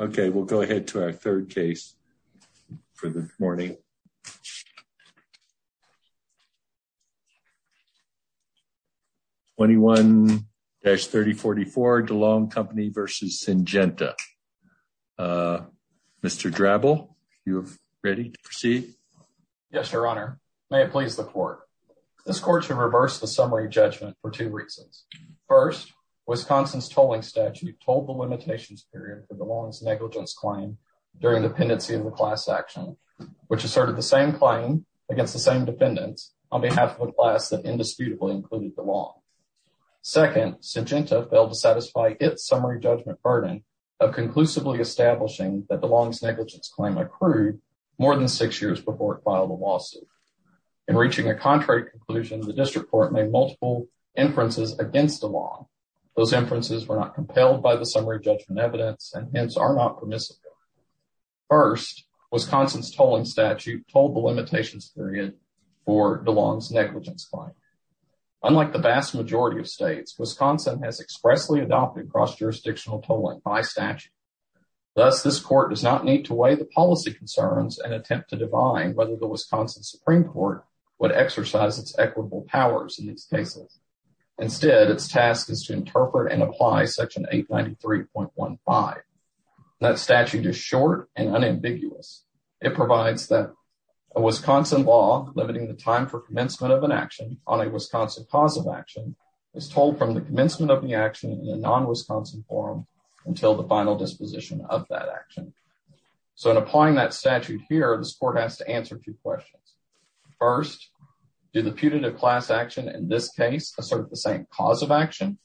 Okay, we'll go ahead to our third case for the morning. 21-3044 DeLong Company v. Syngenta. Mr. Drabble, you ready to proceed? Yes, your honor. May it please the court. This court should reverse the summary judgment for First, Wisconsin's tolling statute told the limitations period for DeLong's negligence claim during dependency in the class action, which asserted the same claim against the same defendants on behalf of a class that indisputably included DeLong. Second, Syngenta failed to satisfy its summary judgment burden of conclusively establishing that DeLong's negligence claim accrued more than six years before it filed a lawsuit. In reaching a contrary conclusion, the district court made multiple inferences against DeLong. Those inferences were not compelled by the summary judgment evidence and hence are not permissible. First, Wisconsin's tolling statute told the limitations period for DeLong's negligence claim. Unlike the vast majority of states, Wisconsin has expressly adopted cross-jurisdictional tolling by statute. Thus, this court does not need to weigh the policy concerns and attempt to divine whether Wisconsin's Supreme Court would exercise its equitable powers in these cases. Instead, its task is to interpret and apply section 893.15. That statute is short and unambiguous. It provides that a Wisconsin law limiting the time for commencement of an action on a Wisconsin causal action is told from the commencement of the action in a non-Wisconsin forum until the final disposition of that action. So, in applying that statute here, this court has to answer two questions. First, did the putative class action in this case assert the same cause of action?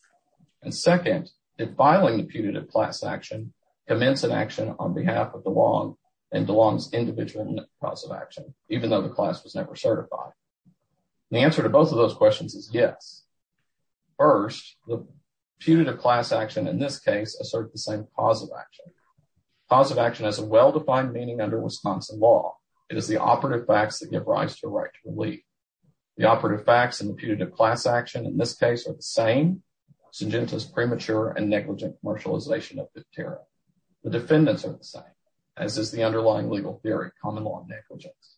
And second, did filing the putative class action commence an action on behalf of DeLong and DeLong's individual cause of action, even though the class was never certified? The answer to both of those questions is yes. First, the putative class action in this case asserts the same cause of action. Cause of action has a well-defined meaning under Wisconsin law. It is the operative facts that give rise to a right to relief. The operative facts in the putative class action in this case are the same. Sengenta's premature and negligent commercialization of the tariff. The defendants are the same, as is the underlying legal theory, common law negligence.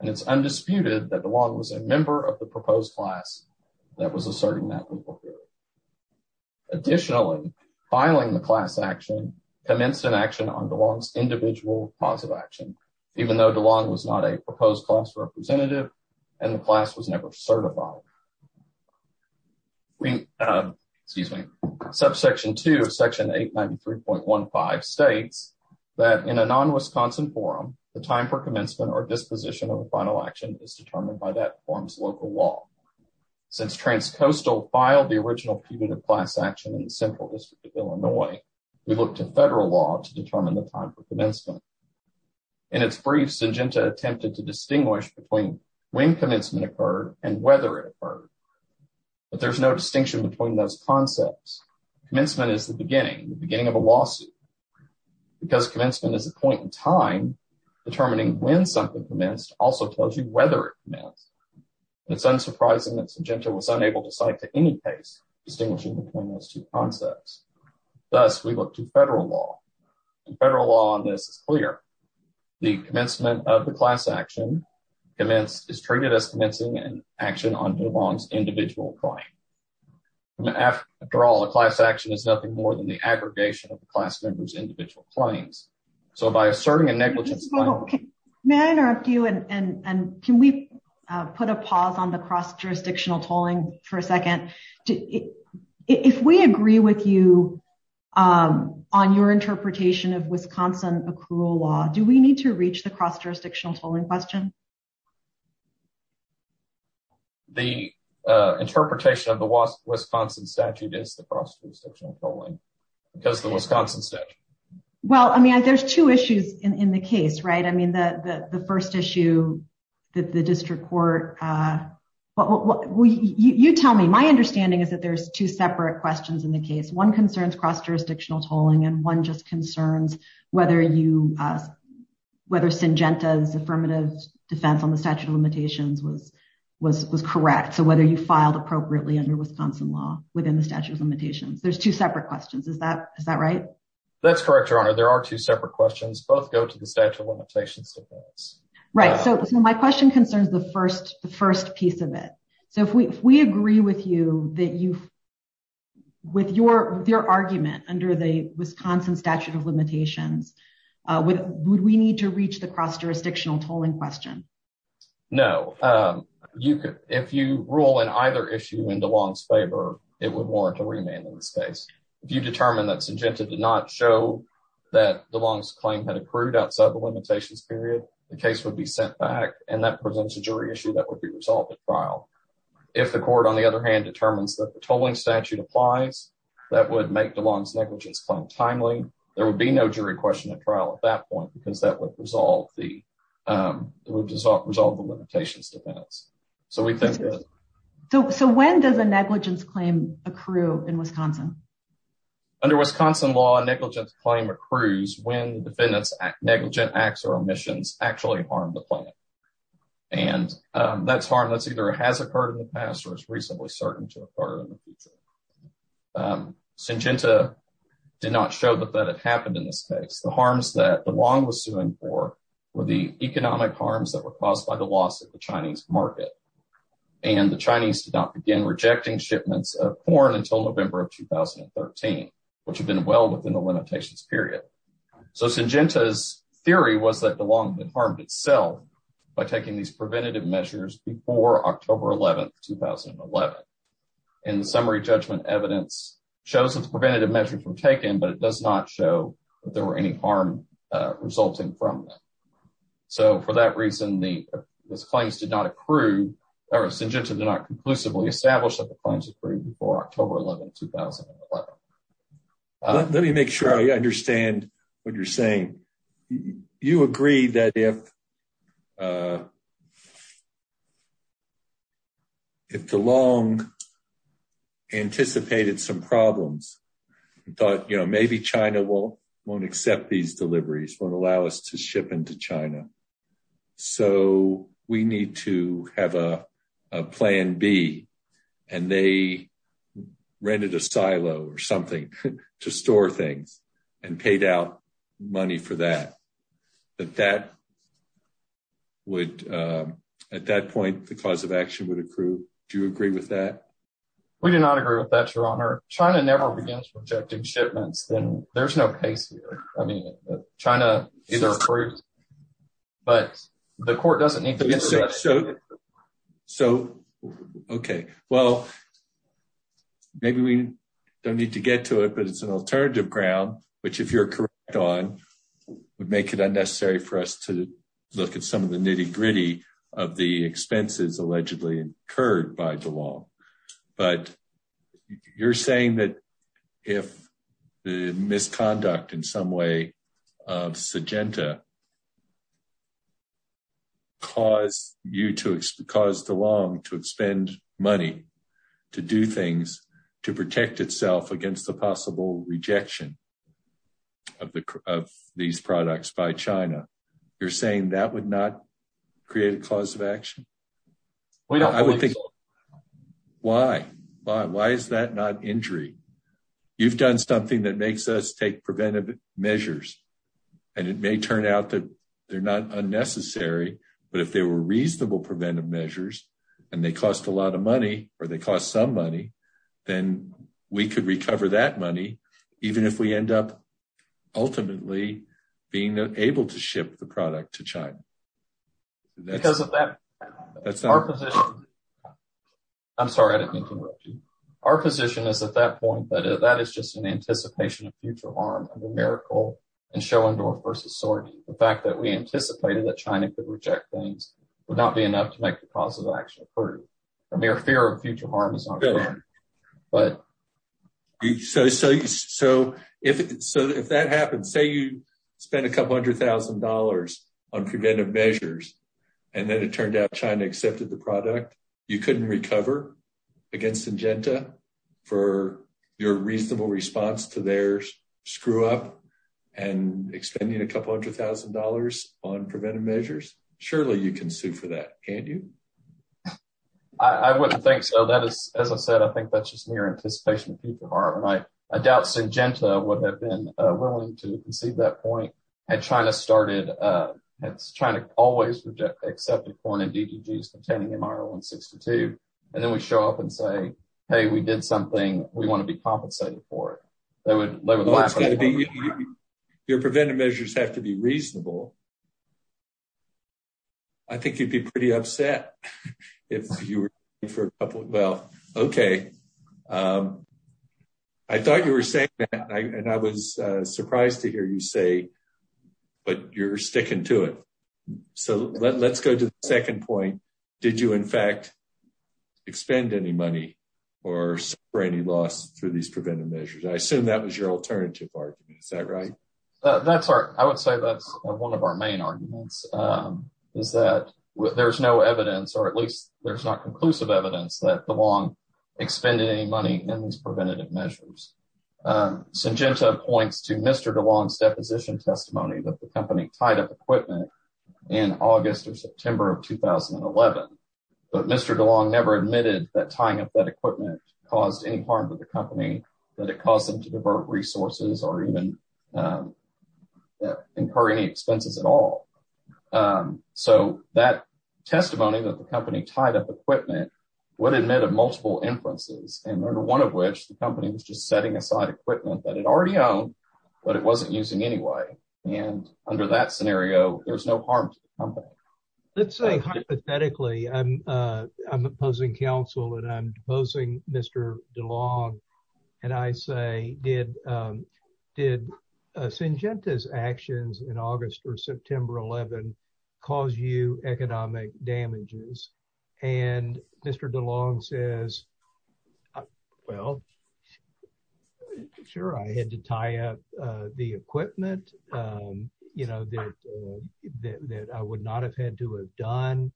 And it's undisputed that DeLong was a member of the proposed class that was asserting that legal theory. Additionally, filing the class action commenced an action on DeLong's individual cause of action, even though DeLong was not a proposed class representative and the class was never certified. We, excuse me, subsection 2 of section 893.15 states that in a non-Wisconsin forum, the time for commencement or disposition of the final action is determined by that forum's local law. Since Transcoastal filed the original putative class action in the Central District of Wisconsin, in its brief, Sengenta attempted to distinguish between when commencement occurred and whether it occurred, but there's no distinction between those concepts. Commencement is the beginning, the beginning of a lawsuit. Because commencement is a point in time, determining when something commenced also tells you whether it commenced. It's unsurprising that Sengenta was unable to cite to any case distinguishing between those two concepts. Thus, we look to federal law, and federal law on this is clear. The commencement of the class action is treated as commencing an action on DeLong's individual claim. After all, a class action is nothing more than the aggregation of the class member's individual claims. So by asserting a negligence... May I interrupt you and can we put a pause on the cross-jurisdictional tolling for a second? If we agree with you on your interpretation of Wisconsin accrual law, do we need to reach the cross-jurisdictional tolling question? The interpretation of the Wisconsin statute is the cross-jurisdictional tolling, because of the Wisconsin statute. Well, I mean, there's two issues in the case, right? I mean, the first issue that the district court... You tell me. My understanding is that there's two separate questions in the case. One concerns cross-jurisdictional tolling, and one just concerns whether Sengenta's affirmative defense on the statute of limitations was correct. So whether you filed appropriately under Wisconsin law within the statute of limitations. There's two separate questions. Is that right? That's correct, Your Honor. There are two separate questions. Both go to the statute of limitations defense. Right. So my question concerns the first piece of it. So if we agree with you that you've... With your argument under the Wisconsin statute of limitations, would we need to reach the cross-jurisdictional tolling question? No. If you rule in either issue in DeLong's favor, it would warrant a remand in this case. If you determine that Sengenta did not show that DeLong's claim had accrued outside the limitations period, the case would be sent back, and that presents a jury issue that would be resolved at trial. If the court, on the other hand, determines that the tolling statute applies, that would make DeLong's negligence claim timely. There would be no jury question at trial at that point, because that would resolve the limitations defense. So we think that... So when does a negligence claim accrue in Wisconsin? Under Wisconsin law, a negligence claim accrues when the defendant's negligent acts or omissions actually harm the plan. And that's harm that either has occurred in the past or is reasonably certain to occur in the future. Sengenta did not show that that had happened in this case. The harms that DeLong was suing for were the economic harms that were caused by the loss of the Chinese market. And the Chinese did not begin rejecting shipments of corn until November of 2013, which had been well within the limitations period. So Sengenta's theory was that DeLong had harmed itself by taking these preventative measures before October 11, 2011. And the summary judgment evidence shows that the preventative measures were taken, but it does not show that there were any harm resulting from that. So for that reason, Sengenta did not conclusively establish that the claims accrued before October 11, 2011. Let me make sure I understand what you're saying. You agree that if DeLong anticipated some problems, he thought, you know, maybe China won't accept these deliveries, won't allow us to ship into China. So we need to have a plan B and they rented a silo or something to store things and paid out money for that. At that point, the cause of action would accrue. Do you agree with that? We do not agree with that, your honor. China never begins rejecting shipments. Then there's no case here. I mean, China either approved, but the court doesn't need to. So, okay. Well, maybe we don't need to get to it, but it's an alternative ground, which if you're correct on, would make it unnecessary for us to look at some of the but you're saying that if the misconduct in some way of Sengenta caused DeLong to expend money to do things to protect itself against the possible rejection of these products by China, you're saying that would not create a cause of action? We don't think so. Why? Why is that not injury? You've done something that makes us take preventive measures and it may turn out that they're not unnecessary, but if they were reasonable preventive measures and they cost a lot of money or they cost some money, then we could recover that money even if we end up ultimately being able to ship the product to that's our position. I'm sorry. I didn't mean to interrupt you. Our position is at that point, but that is just an anticipation of future harm of a miracle and showing door versus sorting. The fact that we anticipated that China could reject things would not be enough to make the cause of action. I mean, our fear of future harm is not good, but so, so, so if, so if that happens, say you spend a couple hundred thousand dollars on preventive measures and then it turned out China accepted the product, you couldn't recover against Sengenta for your reasonable response to their screw up and expending a couple hundred thousand dollars on preventive measures. Surely you can sue for that, can't you? I wouldn't think so. That is, as I said, I think that's just near anticipation of future harm. I doubt Sengenta would have been willing to concede that point had China started, had China always accepted foreign and DDGs containing MR162. And then we show up and say, hey, we did something. We want to be compensated for it. Your preventive measures have to be reasonable. I think you'd be pretty upset if you were, well, okay. I thought you were saying that and I was surprised to hear you say, but you're sticking to it. So let's go to the second point. Did you, in fact, expend any money or any loss through these preventive measures? I assume that was your alternative argument. Is that right? That's right. I would say that's one of the main arguments is that there's no evidence, or at least there's not conclusive evidence, that DeLong expended any money in these preventative measures. Sengenta points to Mr. DeLong's deposition testimony that the company tied up equipment in August or September of 2011. But Mr. DeLong never admitted that tying up that equipment caused any harm to the company, that it caused them to divert resources or even incur any expenses at all. So that testimony that the company tied up equipment would admit of multiple inferences, and one of which the company was just setting aside equipment that it already owned, but it wasn't using anyway. And under that scenario, there's no harm to the company. Let's say hypothetically, I'm opposing counsel and I'm opposing Mr. DeLong. And I say, did Sengenta's actions in August or September 11 cause you economic damages? And Mr. DeLong says, well, sure, I had to tie up the equipment, you know, that I would not have had to have done.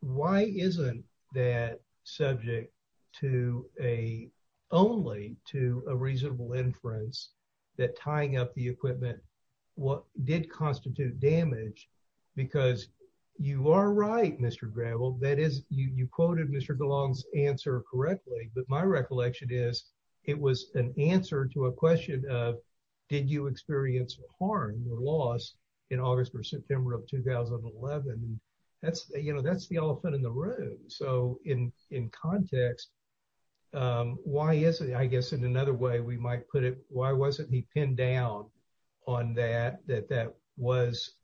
Why isn't that subject to a, only to a reasonable inference that tying up the equipment did constitute damage? Because you are right, Mr. Gravel, that is, you quoted Mr. DeLong's answer correctly. But my recollection is, it was an answer to a question of, did you experience harm or loss in August or September of 2011? That's, you know, that's the elephant in the room. So in context, why is it, I guess in another way, we might put it, why wasn't he pinned down on that, that that was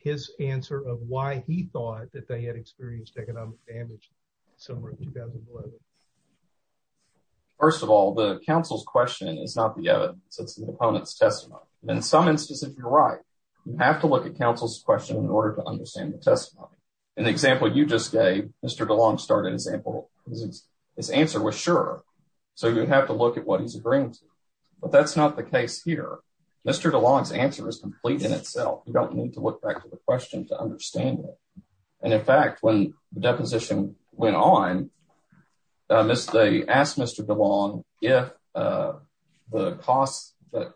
his answer of why he thought that they had experienced economic damage somewhere in 2011? First of all, the counsel's question is not the evidence, it's the opponent's testimony. And in some instances, you're right. You have to look at counsel's question in order to understand the testimony. In the example you just gave, Mr. DeLong started an example, his answer was sure. So you have to look at what he's agreeing to. But that's not the case here. Mr. DeLong's answer is complete in itself. You don't need to look back to the question to understand it. And in fact, when the deposition went on, they asked Mr. DeLong if the costs that,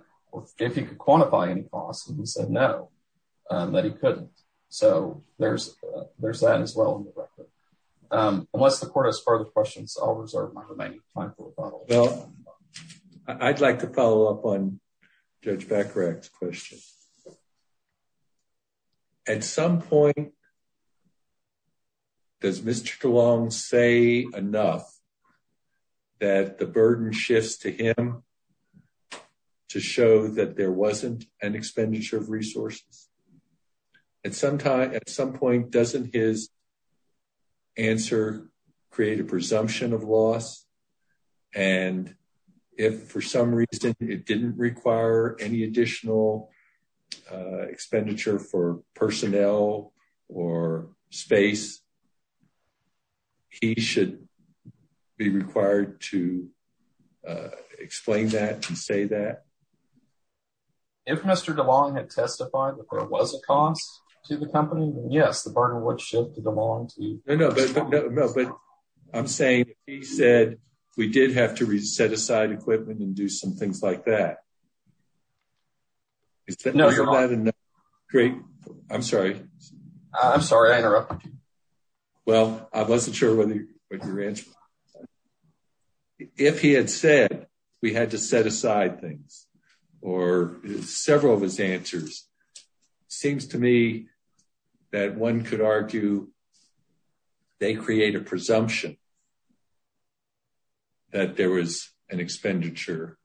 if he could quantify any costs, and he said no, that he couldn't. So there's that as well in the record. Unless the court has further questions, I'll reserve my remaining time for follow-up. Well, I'd like to follow up on Judge Bacharach's question. At some point, does Mr. DeLong say enough that the burden shifts to him to show that there wasn't an expenditure of resources? At some point, doesn't his answer create a presumption of loss? And if for some reason it didn't require any additional expenditure for personnel or space, he should be required to explain that and say that? If Mr. DeLong had testified that there was a cost to the company, then yes, the burden would shift to DeLong. No, but I'm saying he said we did have to reset aside equipment and do some things like that. No, you're wrong. Great. I'm sorry. I'm sorry I interrupted you. Well, I wasn't sure whether your answer. If he had said we had to set aside things, or several of his answers, it seems to me that one could argue they create a presumption that there was an expenditure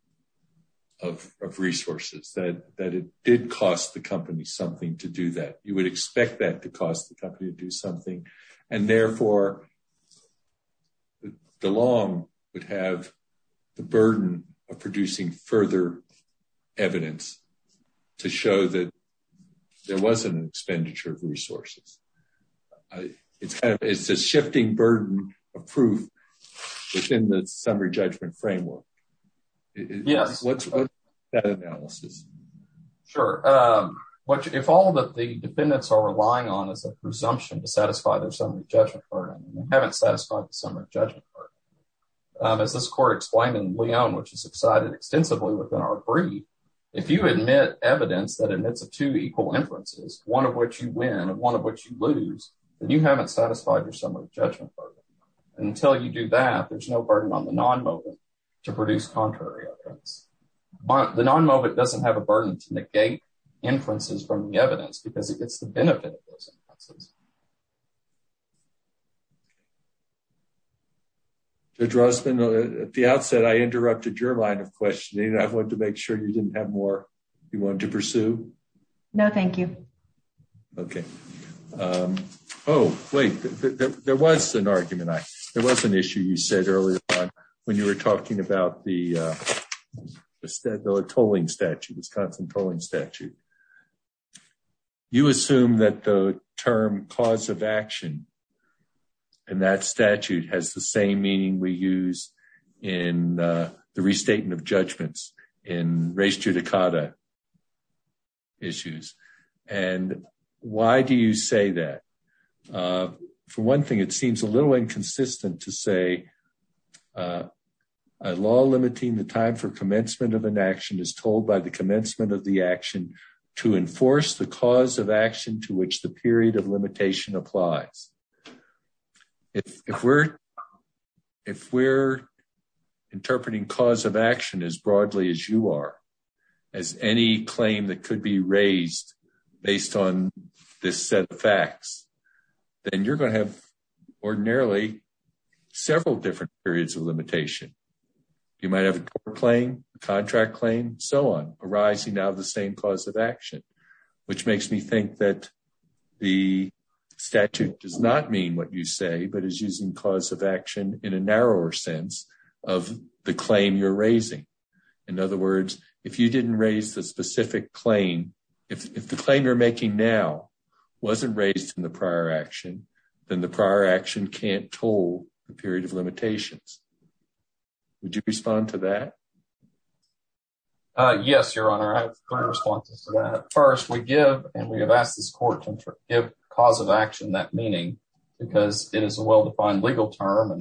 of resources, that it did cost the company something to do that. You would expect that to cost the company to do something. And therefore, DeLong would have the burden of producing further evidence to show that there was an expenditure of resources. It's a shifting burden of proof within the summary judgment framework. Yes. Sure. If all that the dependents are relying on is a presumption to satisfy their summary judgment, as this court explained in Leon, which is excited extensively within our brief, if you admit evidence that admits a two equal inferences, one of which you win, and one of which you lose, then you haven't satisfied your summary judgment. Until you do that, there's no burden on the non-mobile to produce contrary. The non-mobile doesn't have a burden to negate inferences from the evidence because it's the benefit of those inferences. Judge Rossman, at the outset, I interrupted your line of questioning. I wanted to make sure you didn't have more you wanted to pursue. No, thank you. Okay. Oh, wait. There was an argument. There was an issue you said earlier on when you were talking about the tolling statute, Wisconsin tolling statute. You assume that the term cause of action in that statute has the same meaning we use in the restating of judgments in race judicata issues. Why do you say that? For one thing, it seems a little inconsistent to say a law limiting the time for commencement of an action is told by the commencement of the action to enforce the cause of action to which the period of limitation applies. If we're interpreting cause of action as broadly as you are, as any claim that could be raised based on this set of facts, then you're going to have ordinarily several different periods of action, which makes me think that the statute does not mean what you say, but is using cause of action in a narrower sense of the claim you're raising. In other words, if you didn't raise the specific claim, if the claim you're making now wasn't raised in the prior action, then the prior action can't toll the period of limitations. Would you respond to that? Uh, yes, your honor. I have three responses to that. First, we give, and we have asked this court to give cause of action that meaning because it is a well-defined legal term.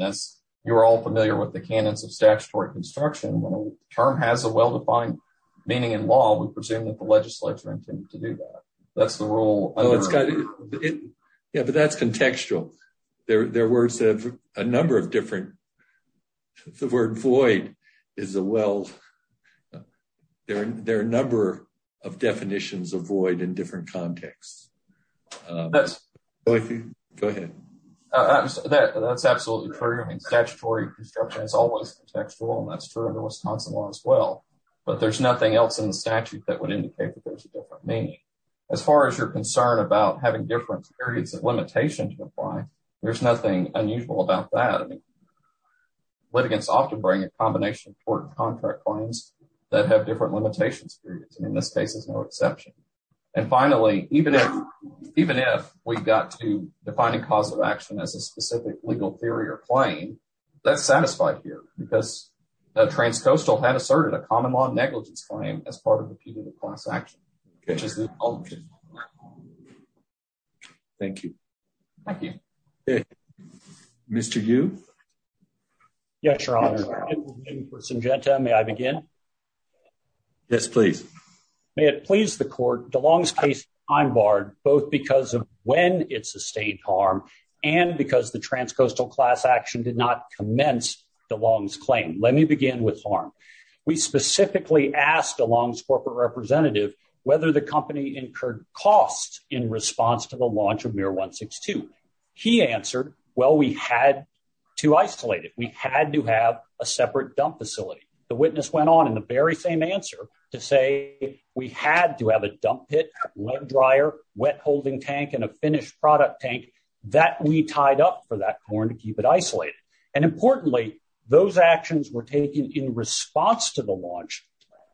You're all familiar with the canons of statutory construction. When a term has a well-defined meaning in law, we presume that the legislature intended to do that. That's the rule. Yeah, but that's contextual. There were a number of different, the word void is a well, there are a number of definitions of void in different contexts. Go ahead. That's absolutely true. I mean, statutory construction is always contextual, and that's true under Wisconsin law as well, but there's nothing else in the statute that would indicate that there's a different meaning. As far as your concern about having different periods of limitation to apply, there's nothing unusual about that. I mean, litigants often bring a combination of court contract claims that have different limitations periods, and in this case, there's no exception. And finally, even if, even if we got to defining cause of action as a specific legal theory or claim, that's satisfied here because the transcoastal had asserted a common law negligence claim as part of the period of Thank you. Thank you. Mr. Yu. Yes, Your Honor. May I begin? Yes, please. May it please the court, DeLong's case is time barred both because of when it sustained harm and because the transcoastal class action did not commence DeLong's claim. Let me begin with harm. We specifically asked DeLong's corporate representative whether the company incurred costs in response to the launch of MIR 162. He answered, well, we had to isolate it. We had to have a separate dump facility. The witness went on in the very same answer to say we had to have a dump pit, wet dryer, wet holding tank, and a finished product tank that we tied up for that corn to keep it isolated. And importantly, those actions were taken in response to the launch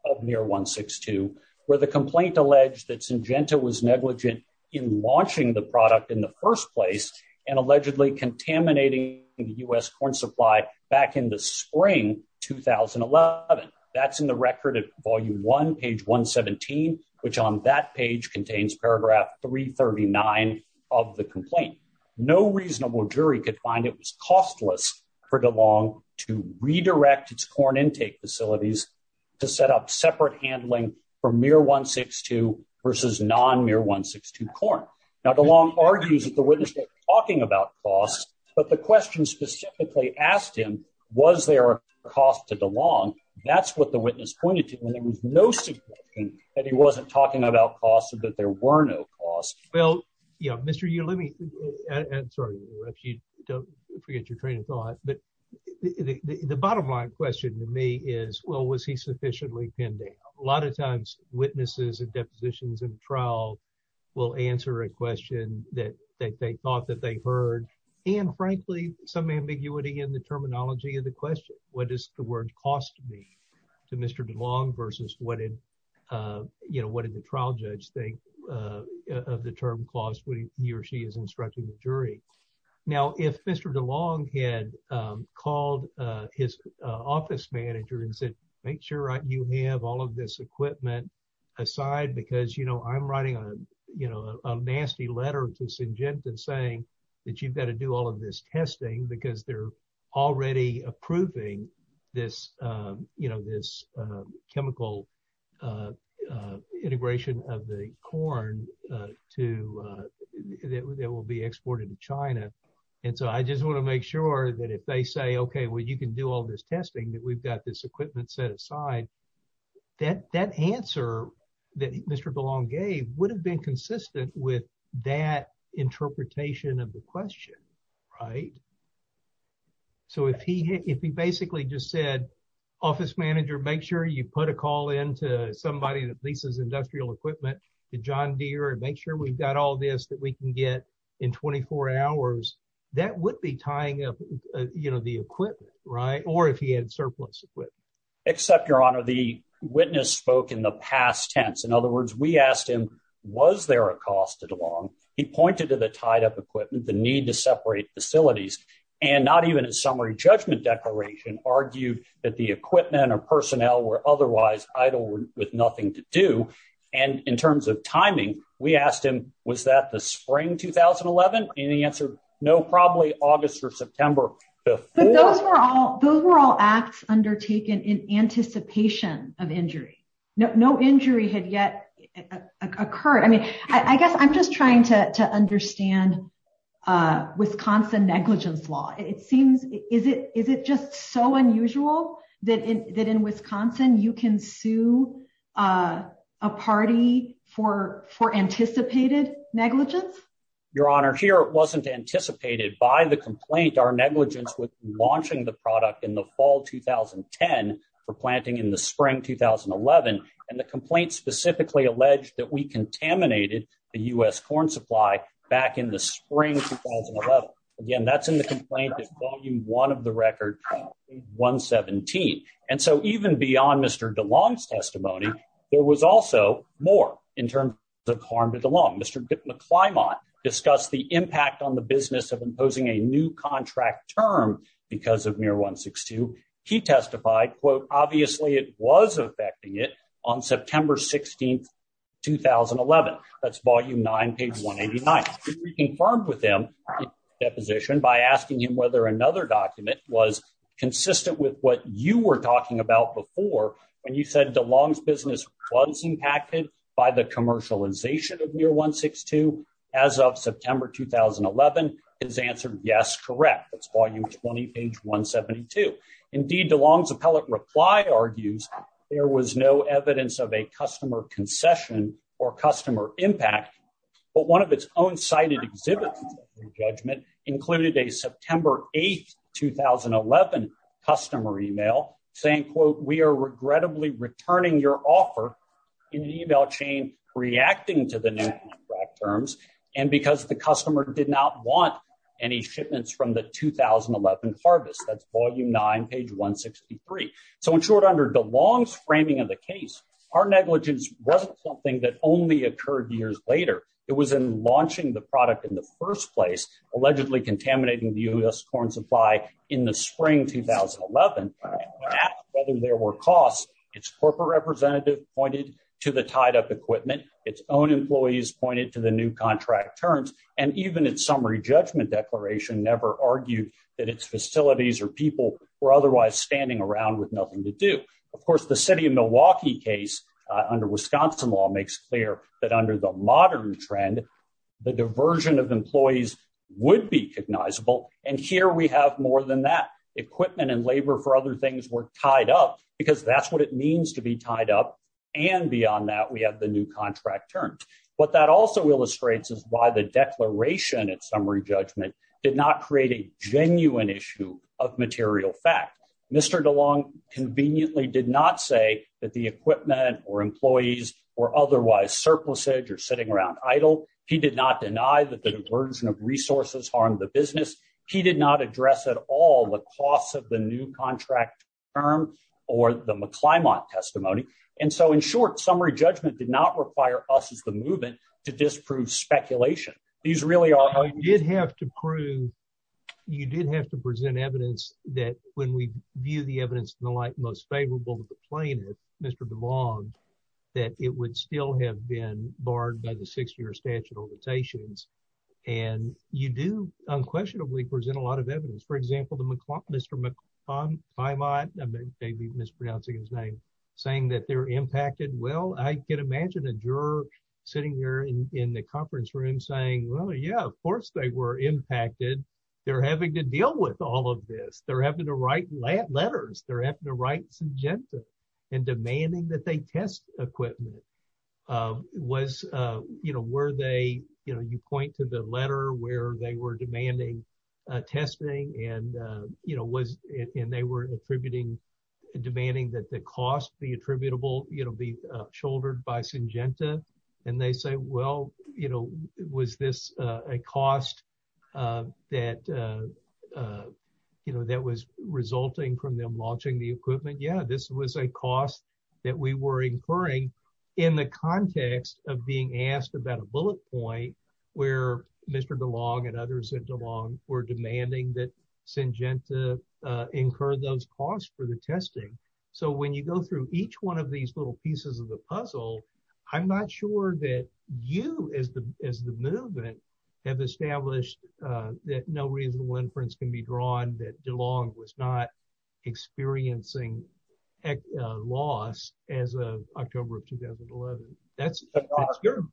of MIR 162, where the complaint alleged that Syngenta was negligent in launching the product in the first place and allegedly contaminating the U.S. corn supply back in the spring 2011. That's in the record at volume one, page 117, which on that page contains paragraph 339 of the complaint. No reasonable jury could find it was costless for DeLong to redirect its corn intake facilities to set up separate handling for MIR 162 versus non-MIR 162 corn. Now, DeLong argues that the witness wasn't talking about costs, but the question specifically asked him, was there a cost to DeLong? That's what the witness pointed to when there was no suggestion that he wasn't talking about costs and that there were no costs. Well, you know, Mr. Yu, let me, I'm sorry, if you don't forget your train of thought, but the bottom line question to me is, well, was he sufficiently pending? A lot of times witnesses and depositions in trial will answer a question that they thought that they heard, and frankly, some ambiguity in the terminology of the question. What does the word cost mean to Mr. DeLong versus what did, you know, the trial judge think of the term cost when he or she is instructing the jury? Now, if Mr. DeLong had called his office manager and said, make sure you have all of this equipment aside, because, you know, I'm writing a, you know, a nasty letter to Syngenton saying that you've got to do all of this testing because they're already approving this, you know, this chemical integration of the corn to, that will be exported to China. And so I just want to make sure that if they say, okay, well, you can do all this testing that we've got this equipment set aside, that answer that Mr. DeLong gave would have been consistent with that interpretation of the question, right? So if he, if he basically just said, office manager, make sure you put a call into somebody that leases industrial equipment to John Deere and make sure we've got all this that we can get in 24 hours, that would be tying up, you know, the equipment, right? Or if he had surplus equipment. Except your honor, the witness spoke in the past tense. In other words, we asked him, was there a cost to DeLong? He pointed to the tied up equipment, the need to separate facilities, and not even a summary judgment declaration argued that the equipment or personnel were otherwise idle with nothing to do. And in terms of timing, we asked him, was that the spring 2011? And he no, probably August or September. But those were all those were all acts undertaken in anticipation of injury. No, no injury had yet occurred. I mean, I guess I'm just trying to understand Wisconsin negligence law. It seems is it is it just so unusual that in that in Wisconsin, you can sue a party for for anticipated negligence? Your honor here, it wasn't anticipated by the complaint, our negligence with launching the product in the fall 2010 for planting in the spring 2011. And the complaint specifically alleged that we contaminated the US corn supply back in the spring 2011. Again, that's in the complaint is volume one of the record 117. And so even beyond Mr. DeLong's testimony, there was also more in terms of harm to DeLong. Mr. McClymont discussed the impact on the business of imposing a new contract term because of MIR 162. He testified, quote, obviously it was affecting it on September 16, 2011. That's volume nine, page 189. We confirmed with him that position by asking him whether another document was consistent with what you were talking about before when you said DeLong's business was impacted by the commercialization of MIR 162. As of September 2011, his answer, yes, correct. That's volume 20, page 172. Indeed, DeLong's appellate reply argues there was no evidence of a customer concession or customer email saying, quote, we are regrettably returning your offer in the email chain reacting to the new contract terms and because the customer did not want any shipments from the 2011 harvest. That's volume nine, page 163. So in short, under DeLong's framing of the case, our negligence wasn't something that only occurred years later. It was in launching the product in the first place, allegedly contaminating the U.S. corn supply in the spring 2011. Asked whether there were costs, its corporate representative pointed to the tied-up equipment, its own employees pointed to the new contract terms, and even its summary judgment declaration never argued that its facilities or people were otherwise standing around with nothing to do. Of course, the city of Milwaukee case under Wisconsin law makes clear that under the modern trend, the diversion of employees would be recognizable, and here we have more than that. Equipment and labor for other things were tied up because that's what it means to be tied up, and beyond that, we have the new contract terms. What that also illustrates is why the declaration, its summary judgment, did not create a genuine issue of material fact. Mr. DeLong conveniently did not say that the equipment or employees were otherwise surplusage or sitting around idle. He did not deny that the diversion of resources harmed the business. He did not address at all the costs of the new contract term or the McClymont testimony, and so in short, summary judgment did not require us as the movement to disprove speculation. These really are... You did have to prove, you did have to present evidence that when we view the evidence in the light most favorable to the plaintiff, Mr. DeLong, that it would still have been barred by the six-year statute of limitations, and you do unquestionably present a lot of evidence. For example, Mr. McClymont, I may be mispronouncing his name, saying that they're impacted. Well, I can imagine a juror sitting here in the conference room saying, well, yeah, of course, they were impacted. They're having to deal with all of this. They're having to write letters. They're having to write subjective and demanding that they test equipment. You point to the letter where they were demanding testing, and they were attributing, demanding that the cost, the attributable be shouldered by Syngenta, and they say, well, was this a cost that was resulting from them launching the equipment? Yeah, this was a cost that we were incurring in the context of being asked about a bullet point where Mr. DeLong and others at DeLong were demanding that Syngenta incur those costs for the testing. So when you go through each one of these little pieces of the puzzle, I'm not sure that you as the movement have established that no reasonable inference can be drawn that DeLong was not experiencing a loss as of October of 2011. But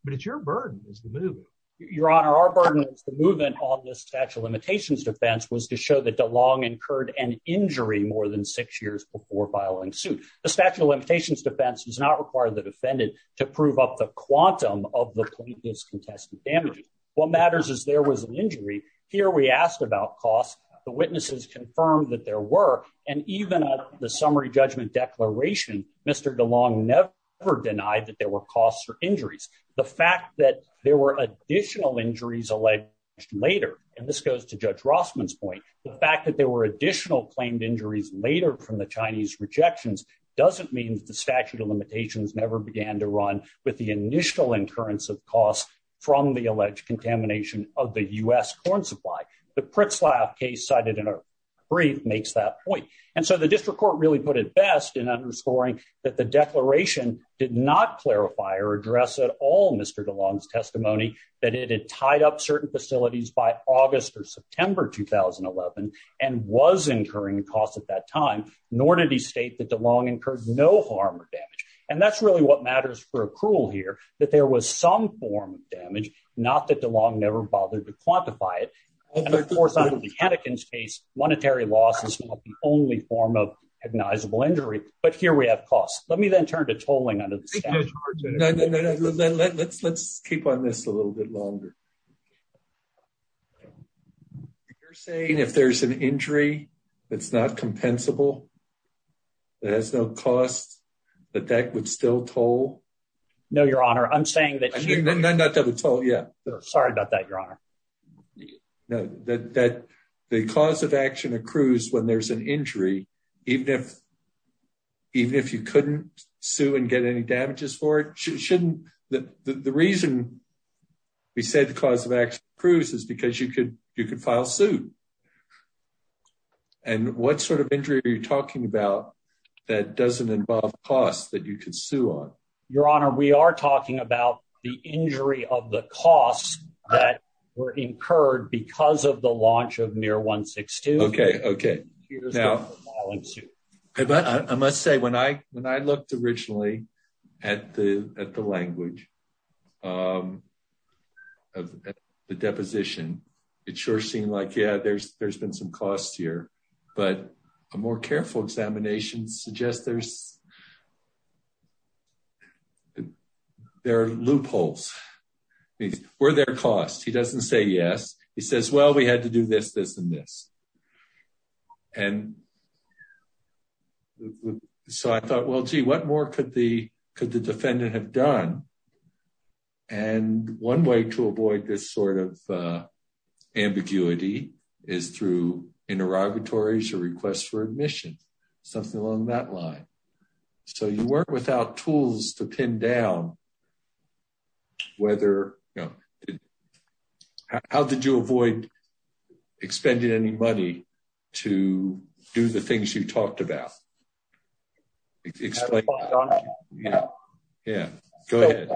it's your burden as the movement. Your Honor, our burden as the movement on this statute of limitations defense was to show that DeLong incurred an injury more than six years before filing suit. The statute of limitations defense does not require the defendant to prove up the quantum of the plaintiff's contested damages. What matters is there was an injury. Here we asked about costs. The witnesses confirmed that there were, and even at the summary judgment declaration, Mr. DeLong never denied that there were costs or injuries. The fact that there were goes to Judge Rossman's point. The fact that there were additional claimed injuries later from the Chinese rejections doesn't mean that the statute of limitations never began to run with the initial incurrence of costs from the alleged contamination of the U.S. corn supply. The Pritzlaff case cited in our brief makes that point. And so the district court really put it best in underscoring that the declaration did not clarify or address at all Mr. DeLong's testimony that it had tied up certain facilities by August or September 2011 and was incurring costs at that time, nor did he state that DeLong incurred no harm or damage. And that's really what matters for accrual here, that there was some form of damage, not that DeLong never bothered to quantify it. And of course, under the Hannakin's case, monetary loss is not the only form of recognizable injury, but here we have costs. Let me then turn to tolling under the statute. No, no, no, no. Let's let's keep on this a little bit longer. You're saying if there's an injury that's not compensable, that has no cost, that that would still toll? No, Your Honor. I'm saying that you... Not that would toll, yeah. Sorry about that, Your Honor. No, that the cause of action accrues when there's an injury, even if even if you couldn't sue and get any damages for it, shouldn't... The reason we said the cause of action accrues is because you could file suit. And what sort of injury are you talking about that doesn't involve costs that you could sue on? Your Honor, we are talking about the injury of the costs that were incurred because of the launch of MIR 162. Okay. Now, I must say, when I looked originally at the language of the deposition, it sure seemed like, yeah, there's been some costs here, but a more careful examination suggests there are loopholes. Were there costs? He doesn't say yes. He says, well, we had to do this, this, and this. And so I thought, well, gee, what more could the defendant have done? And one way to avoid this sort of ambiguity is through interrogatories or requests for admission, something along that line. So you work without tools to pin down whether, you know, how did you avoid expending any money to do the things you talked about? Explain. Yeah. Yeah. Go ahead.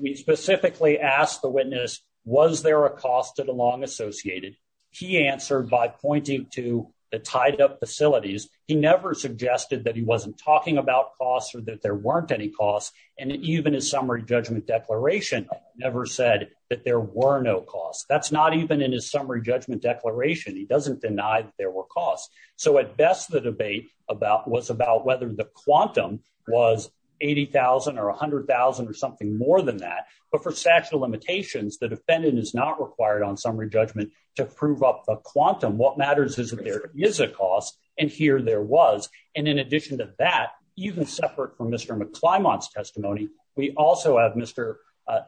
We specifically asked the witness, was there a cost to the long associated? He answered by pointing to the tied up facilities. He never suggested that he wasn't talking about costs or that there weren't any costs. And even his summary judgment declaration never said that there were no costs. That's not even in his summary judgment declaration. He doesn't deny that there were costs. So at best, the debate was about whether the quantum was 80,000 or 100,000 or something more than that. But for statute of limitations, the defendant is not required on summary judgment to prove up the quantum. What matters is that there is a cost, and here there was. And in addition to that, even separate from Mr. McClymon's testimony, we also have Mr.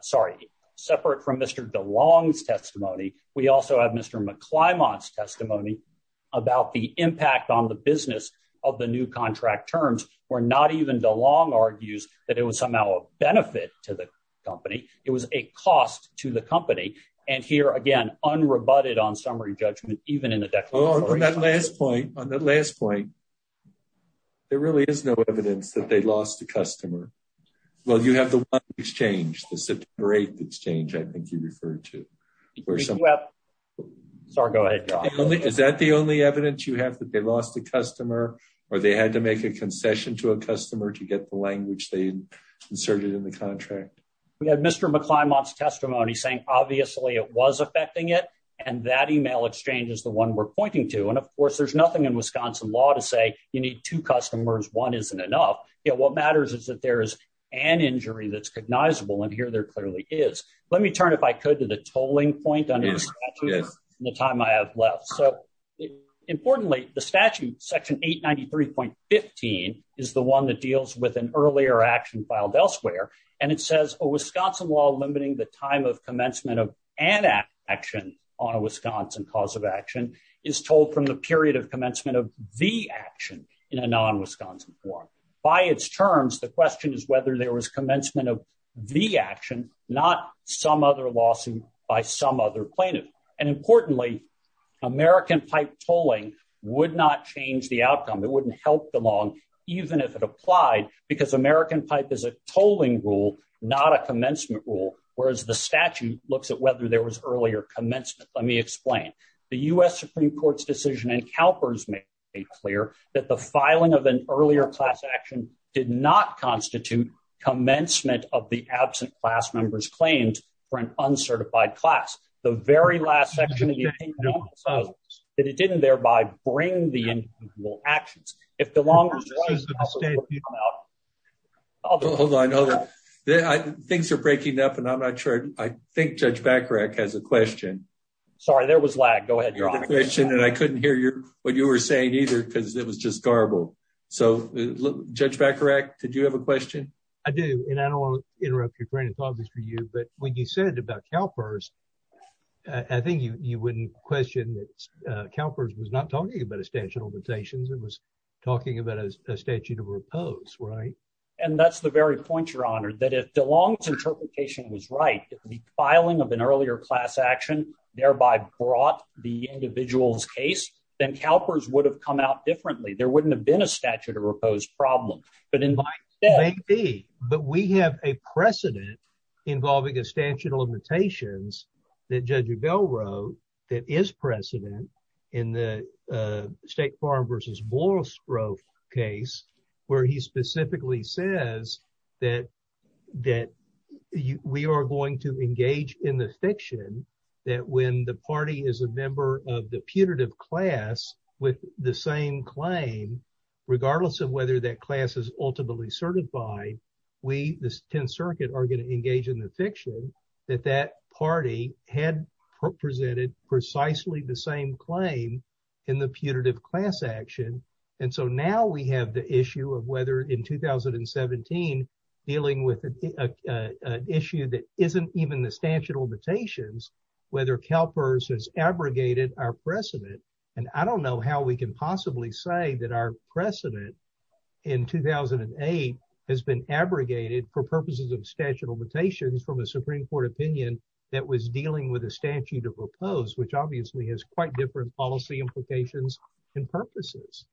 Sorry, separate from Mr. DeLong's testimony. We also have Mr. McClymon's testimony about the impact on the business of the new contract terms, where not even DeLong argues that it was somehow a benefit to the company. It was a cost to the company. And here again, unrebutted on summary judgment, even in the declaration. On that last point, there really is no evidence that they lost a customer. Well, you have the one exchange, the September 8th exchange, I think you referred to. Sorry, go ahead, John. Is that the only evidence you have, that they lost a customer or they had to make a concession to a customer to get the language they inserted in the contract? We had Mr. McClymon's testimony saying obviously it was affecting and that email exchange is the one we're pointing to. And of course, there's nothing in Wisconsin law to say you need two customers, one isn't enough. What matters is that there is an injury that's cognizable, and here there clearly is. Let me turn, if I could, to the tolling point under the statute and the time I have left. So importantly, the statute, section 893.15, is the one that deals with an earlier action filed elsewhere. And it says a Wisconsin law limiting the time of commencement of an action on a Wisconsin cause of action is told from the period of commencement of the action in a non-Wisconsin form. By its terms, the question is whether there was commencement of the action, not some other lawsuit by some other plaintiff. And importantly, American pipe tolling would not change the outcome. It wouldn't help the law, even if it applied, because American pipe is a tolling rule, not a commencement rule, whereas the statute looks at whether there was earlier commencement. Let me explain. The U.S. Supreme Court's decision in CalPERS made clear that the filing of an earlier class action did not constitute commencement of the absent class member's claims for an uncertified class. The very last section of the opinion was that it didn't thereby bring the individual actions. If the law... Hold on, hold on. Things are breaking up and I'm not sure. I think Judge Bacharach has a question. Sorry, there was lag. Go ahead, John. I couldn't hear what you were saying either because it was just garbled. So Judge Bacharach, did you have a question? I do, and I don't want to you wouldn't question that CalPERS was not talking about a statute of limitations. It was talking about a statute of repose, right? And that's the very point, Your Honor, that if DeLong's interpretation was right, the filing of an earlier class action thereby brought the individual's case, then CalPERS would have come out differently. There wouldn't have been a statute of repose problem, but in my... It may be, but we have a precedent involving a Bell Road that is precedent in the State Farm versus Boyle's Grove case where he specifically says that we are going to engage in the fiction that when the party is a member of the putative class with the same claim, regardless of whether that class is ultimately certified, we, the 10th presented precisely the same claim in the putative class action. And so now we have the issue of whether in 2017 dealing with an issue that isn't even the statute of limitations, whether CalPERS has abrogated our precedent. And I don't know how we can possibly say that our precedent in 2008 has been abrogated for purposes of statute of limitations from a Supreme Court opinion that was dealing with a statute of repose, which obviously has quite different policy implications and purposes.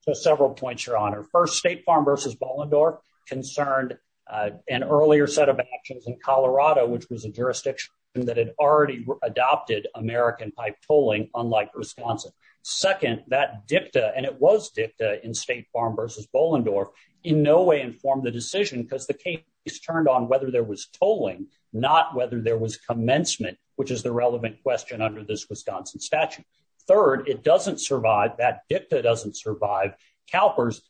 So several points, Your Honor. First, State Farm versus Bolendorf concerned an earlier set of actions in Colorado, which was a jurisdiction that had already adopted American pipe tolling, unlike Wisconsin. Second, that dicta, and it was dicta in State Farm versus Bolendorf, in no way informed the decision because the case turned on whether there was tolling, not whether there was commencement, which is the relevant question under this Wisconsin statute. Third, it doesn't survive, that dicta doesn't survive CalPERS,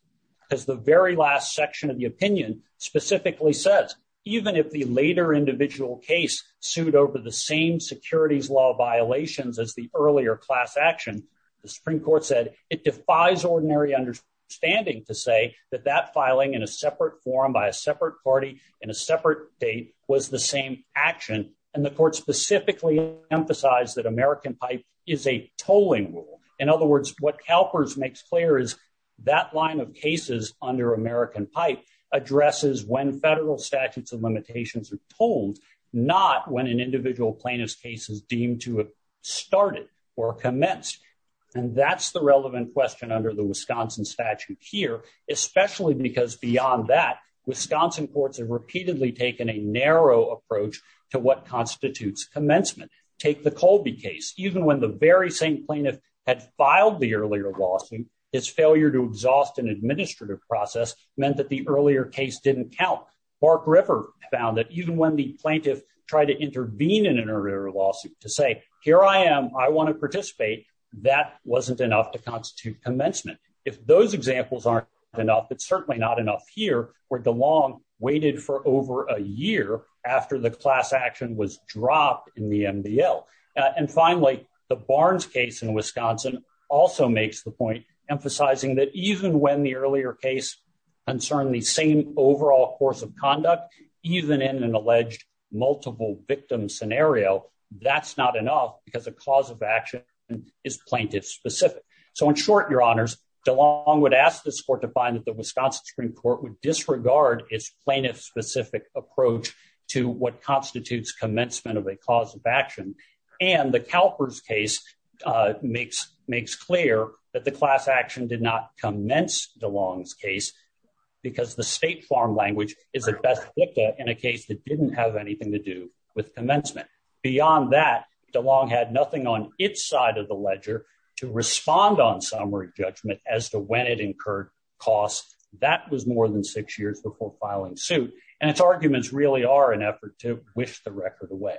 because the very last section of the opinion specifically says, even if the later individual case sued over the same securities law violations as the earlier class action, the Supreme Court said it defies ordinary understanding to say that that filing in a separate forum by a separate party in a separate date was the same action. And the court specifically emphasized that American pipe is a tolling rule. In other words, what CalPERS makes clear is that line of cases under American pipe addresses when federal statutes of limitations are told, not when an individual plaintiff's case is deemed to have started or commenced. And that's the relevant question under the Wisconsin statute here, especially because beyond that, Wisconsin courts have repeatedly taken a narrow approach to what constitutes commencement. Take the Colby case, even when the very same plaintiff had filed the earlier lawsuit, his failure to exhaust an administrative process meant that the earlier case didn't count. Bark River found that even when the plaintiff tried to intervene in an earlier lawsuit to say, here I am, I want to participate, that wasn't enough to if those examples aren't enough, it's certainly not enough here where DeLong waited for over a year after the class action was dropped in the MDL. And finally, the Barnes case in Wisconsin also makes the point emphasizing that even when the earlier case concerned the same overall course of conduct, even in an alleged multiple victim scenario, that's not enough because the cause of action is plaintiff-specific. So in short, your honors, DeLong would ask this court to find that the Wisconsin Supreme Court would disregard its plaintiff-specific approach to what constitutes commencement of a cause of action. And the CalPERS case makes clear that the class action did not commence DeLong's case because the state farm language is at best addicted in a case that DeLong had nothing on its side of the ledger to respond on summary judgment as to when it incurred costs. That was more than six years before filing suit, and its arguments really are an effort to wish the record away.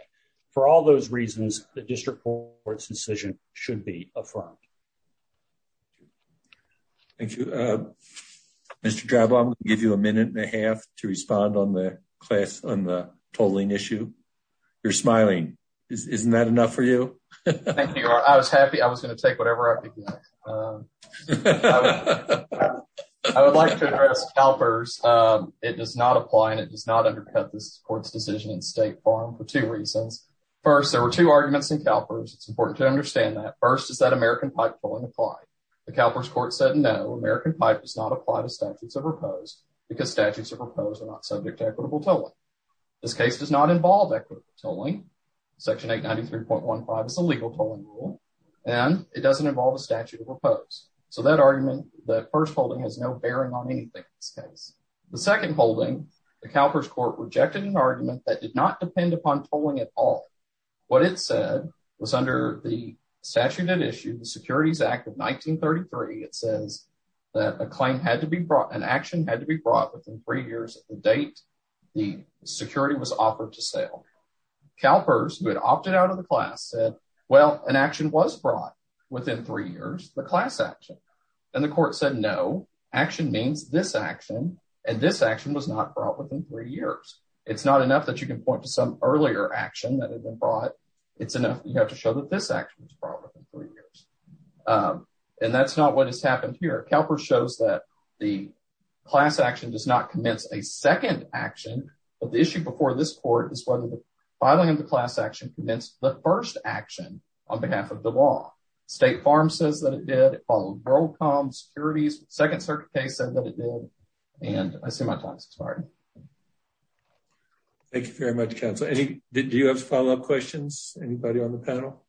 For all those reasons, the district court's decision should be affirmed. Thank you. Mr. Drabo, I'm going to give you a minute and a half to respond on the tolling issue. You're smiling. Isn't that enough for you? Thank you, your honor. I was happy. I was going to take whatever I could get. I would like to address CalPERS. It does not apply and it does not undercut this court's decision in state farm for two reasons. First, there were two arguments in CalPERS. It's important to understand that. First, is that American pipe tolling applied? The CalPERS court said no, American pipe does not apply to statutes of equitable tolling. This case does not involve equitable tolling. Section 893.15 is a legal tolling rule, and it doesn't involve a statute of oppose. So that argument, that first holding, has no bearing on anything in this case. The second holding, the CalPERS court rejected an argument that did not depend upon tolling at all. What it said was under the statute at issue, the Securities Act of 1933, it says that a claim had to be brought, an action had to be brought within three years of the date the security was offered to sale. CalPERS, who had opted out of the class, said, well, an action was brought within three years, the class action. And the court said no, action means this action, and this action was not brought within three years. It's not enough that you can point to some earlier action that had been brought. It's enough that you have to show that this action was brought within three years. And that's not what has commenced a second action. But the issue before this court is whether the filing of the class action commenced the first action on behalf of the law. State Farm says that it did, it followed WorldCom, Securities, Second Circuit case said that it did, and I see my time has expired. Thank you very much, counsel. Do you have follow-up questions, anybody on the panel?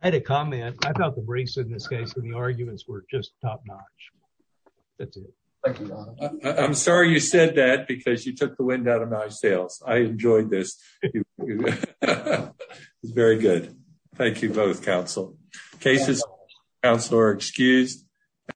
I had a comment. I thought the briefs in this case and the arguments were just top-notch. Thank you. I'm sorry you said that because you took the wind out of my sails. I enjoyed this. It's very good. Thank you both, counsel. Cases, counsel are excused.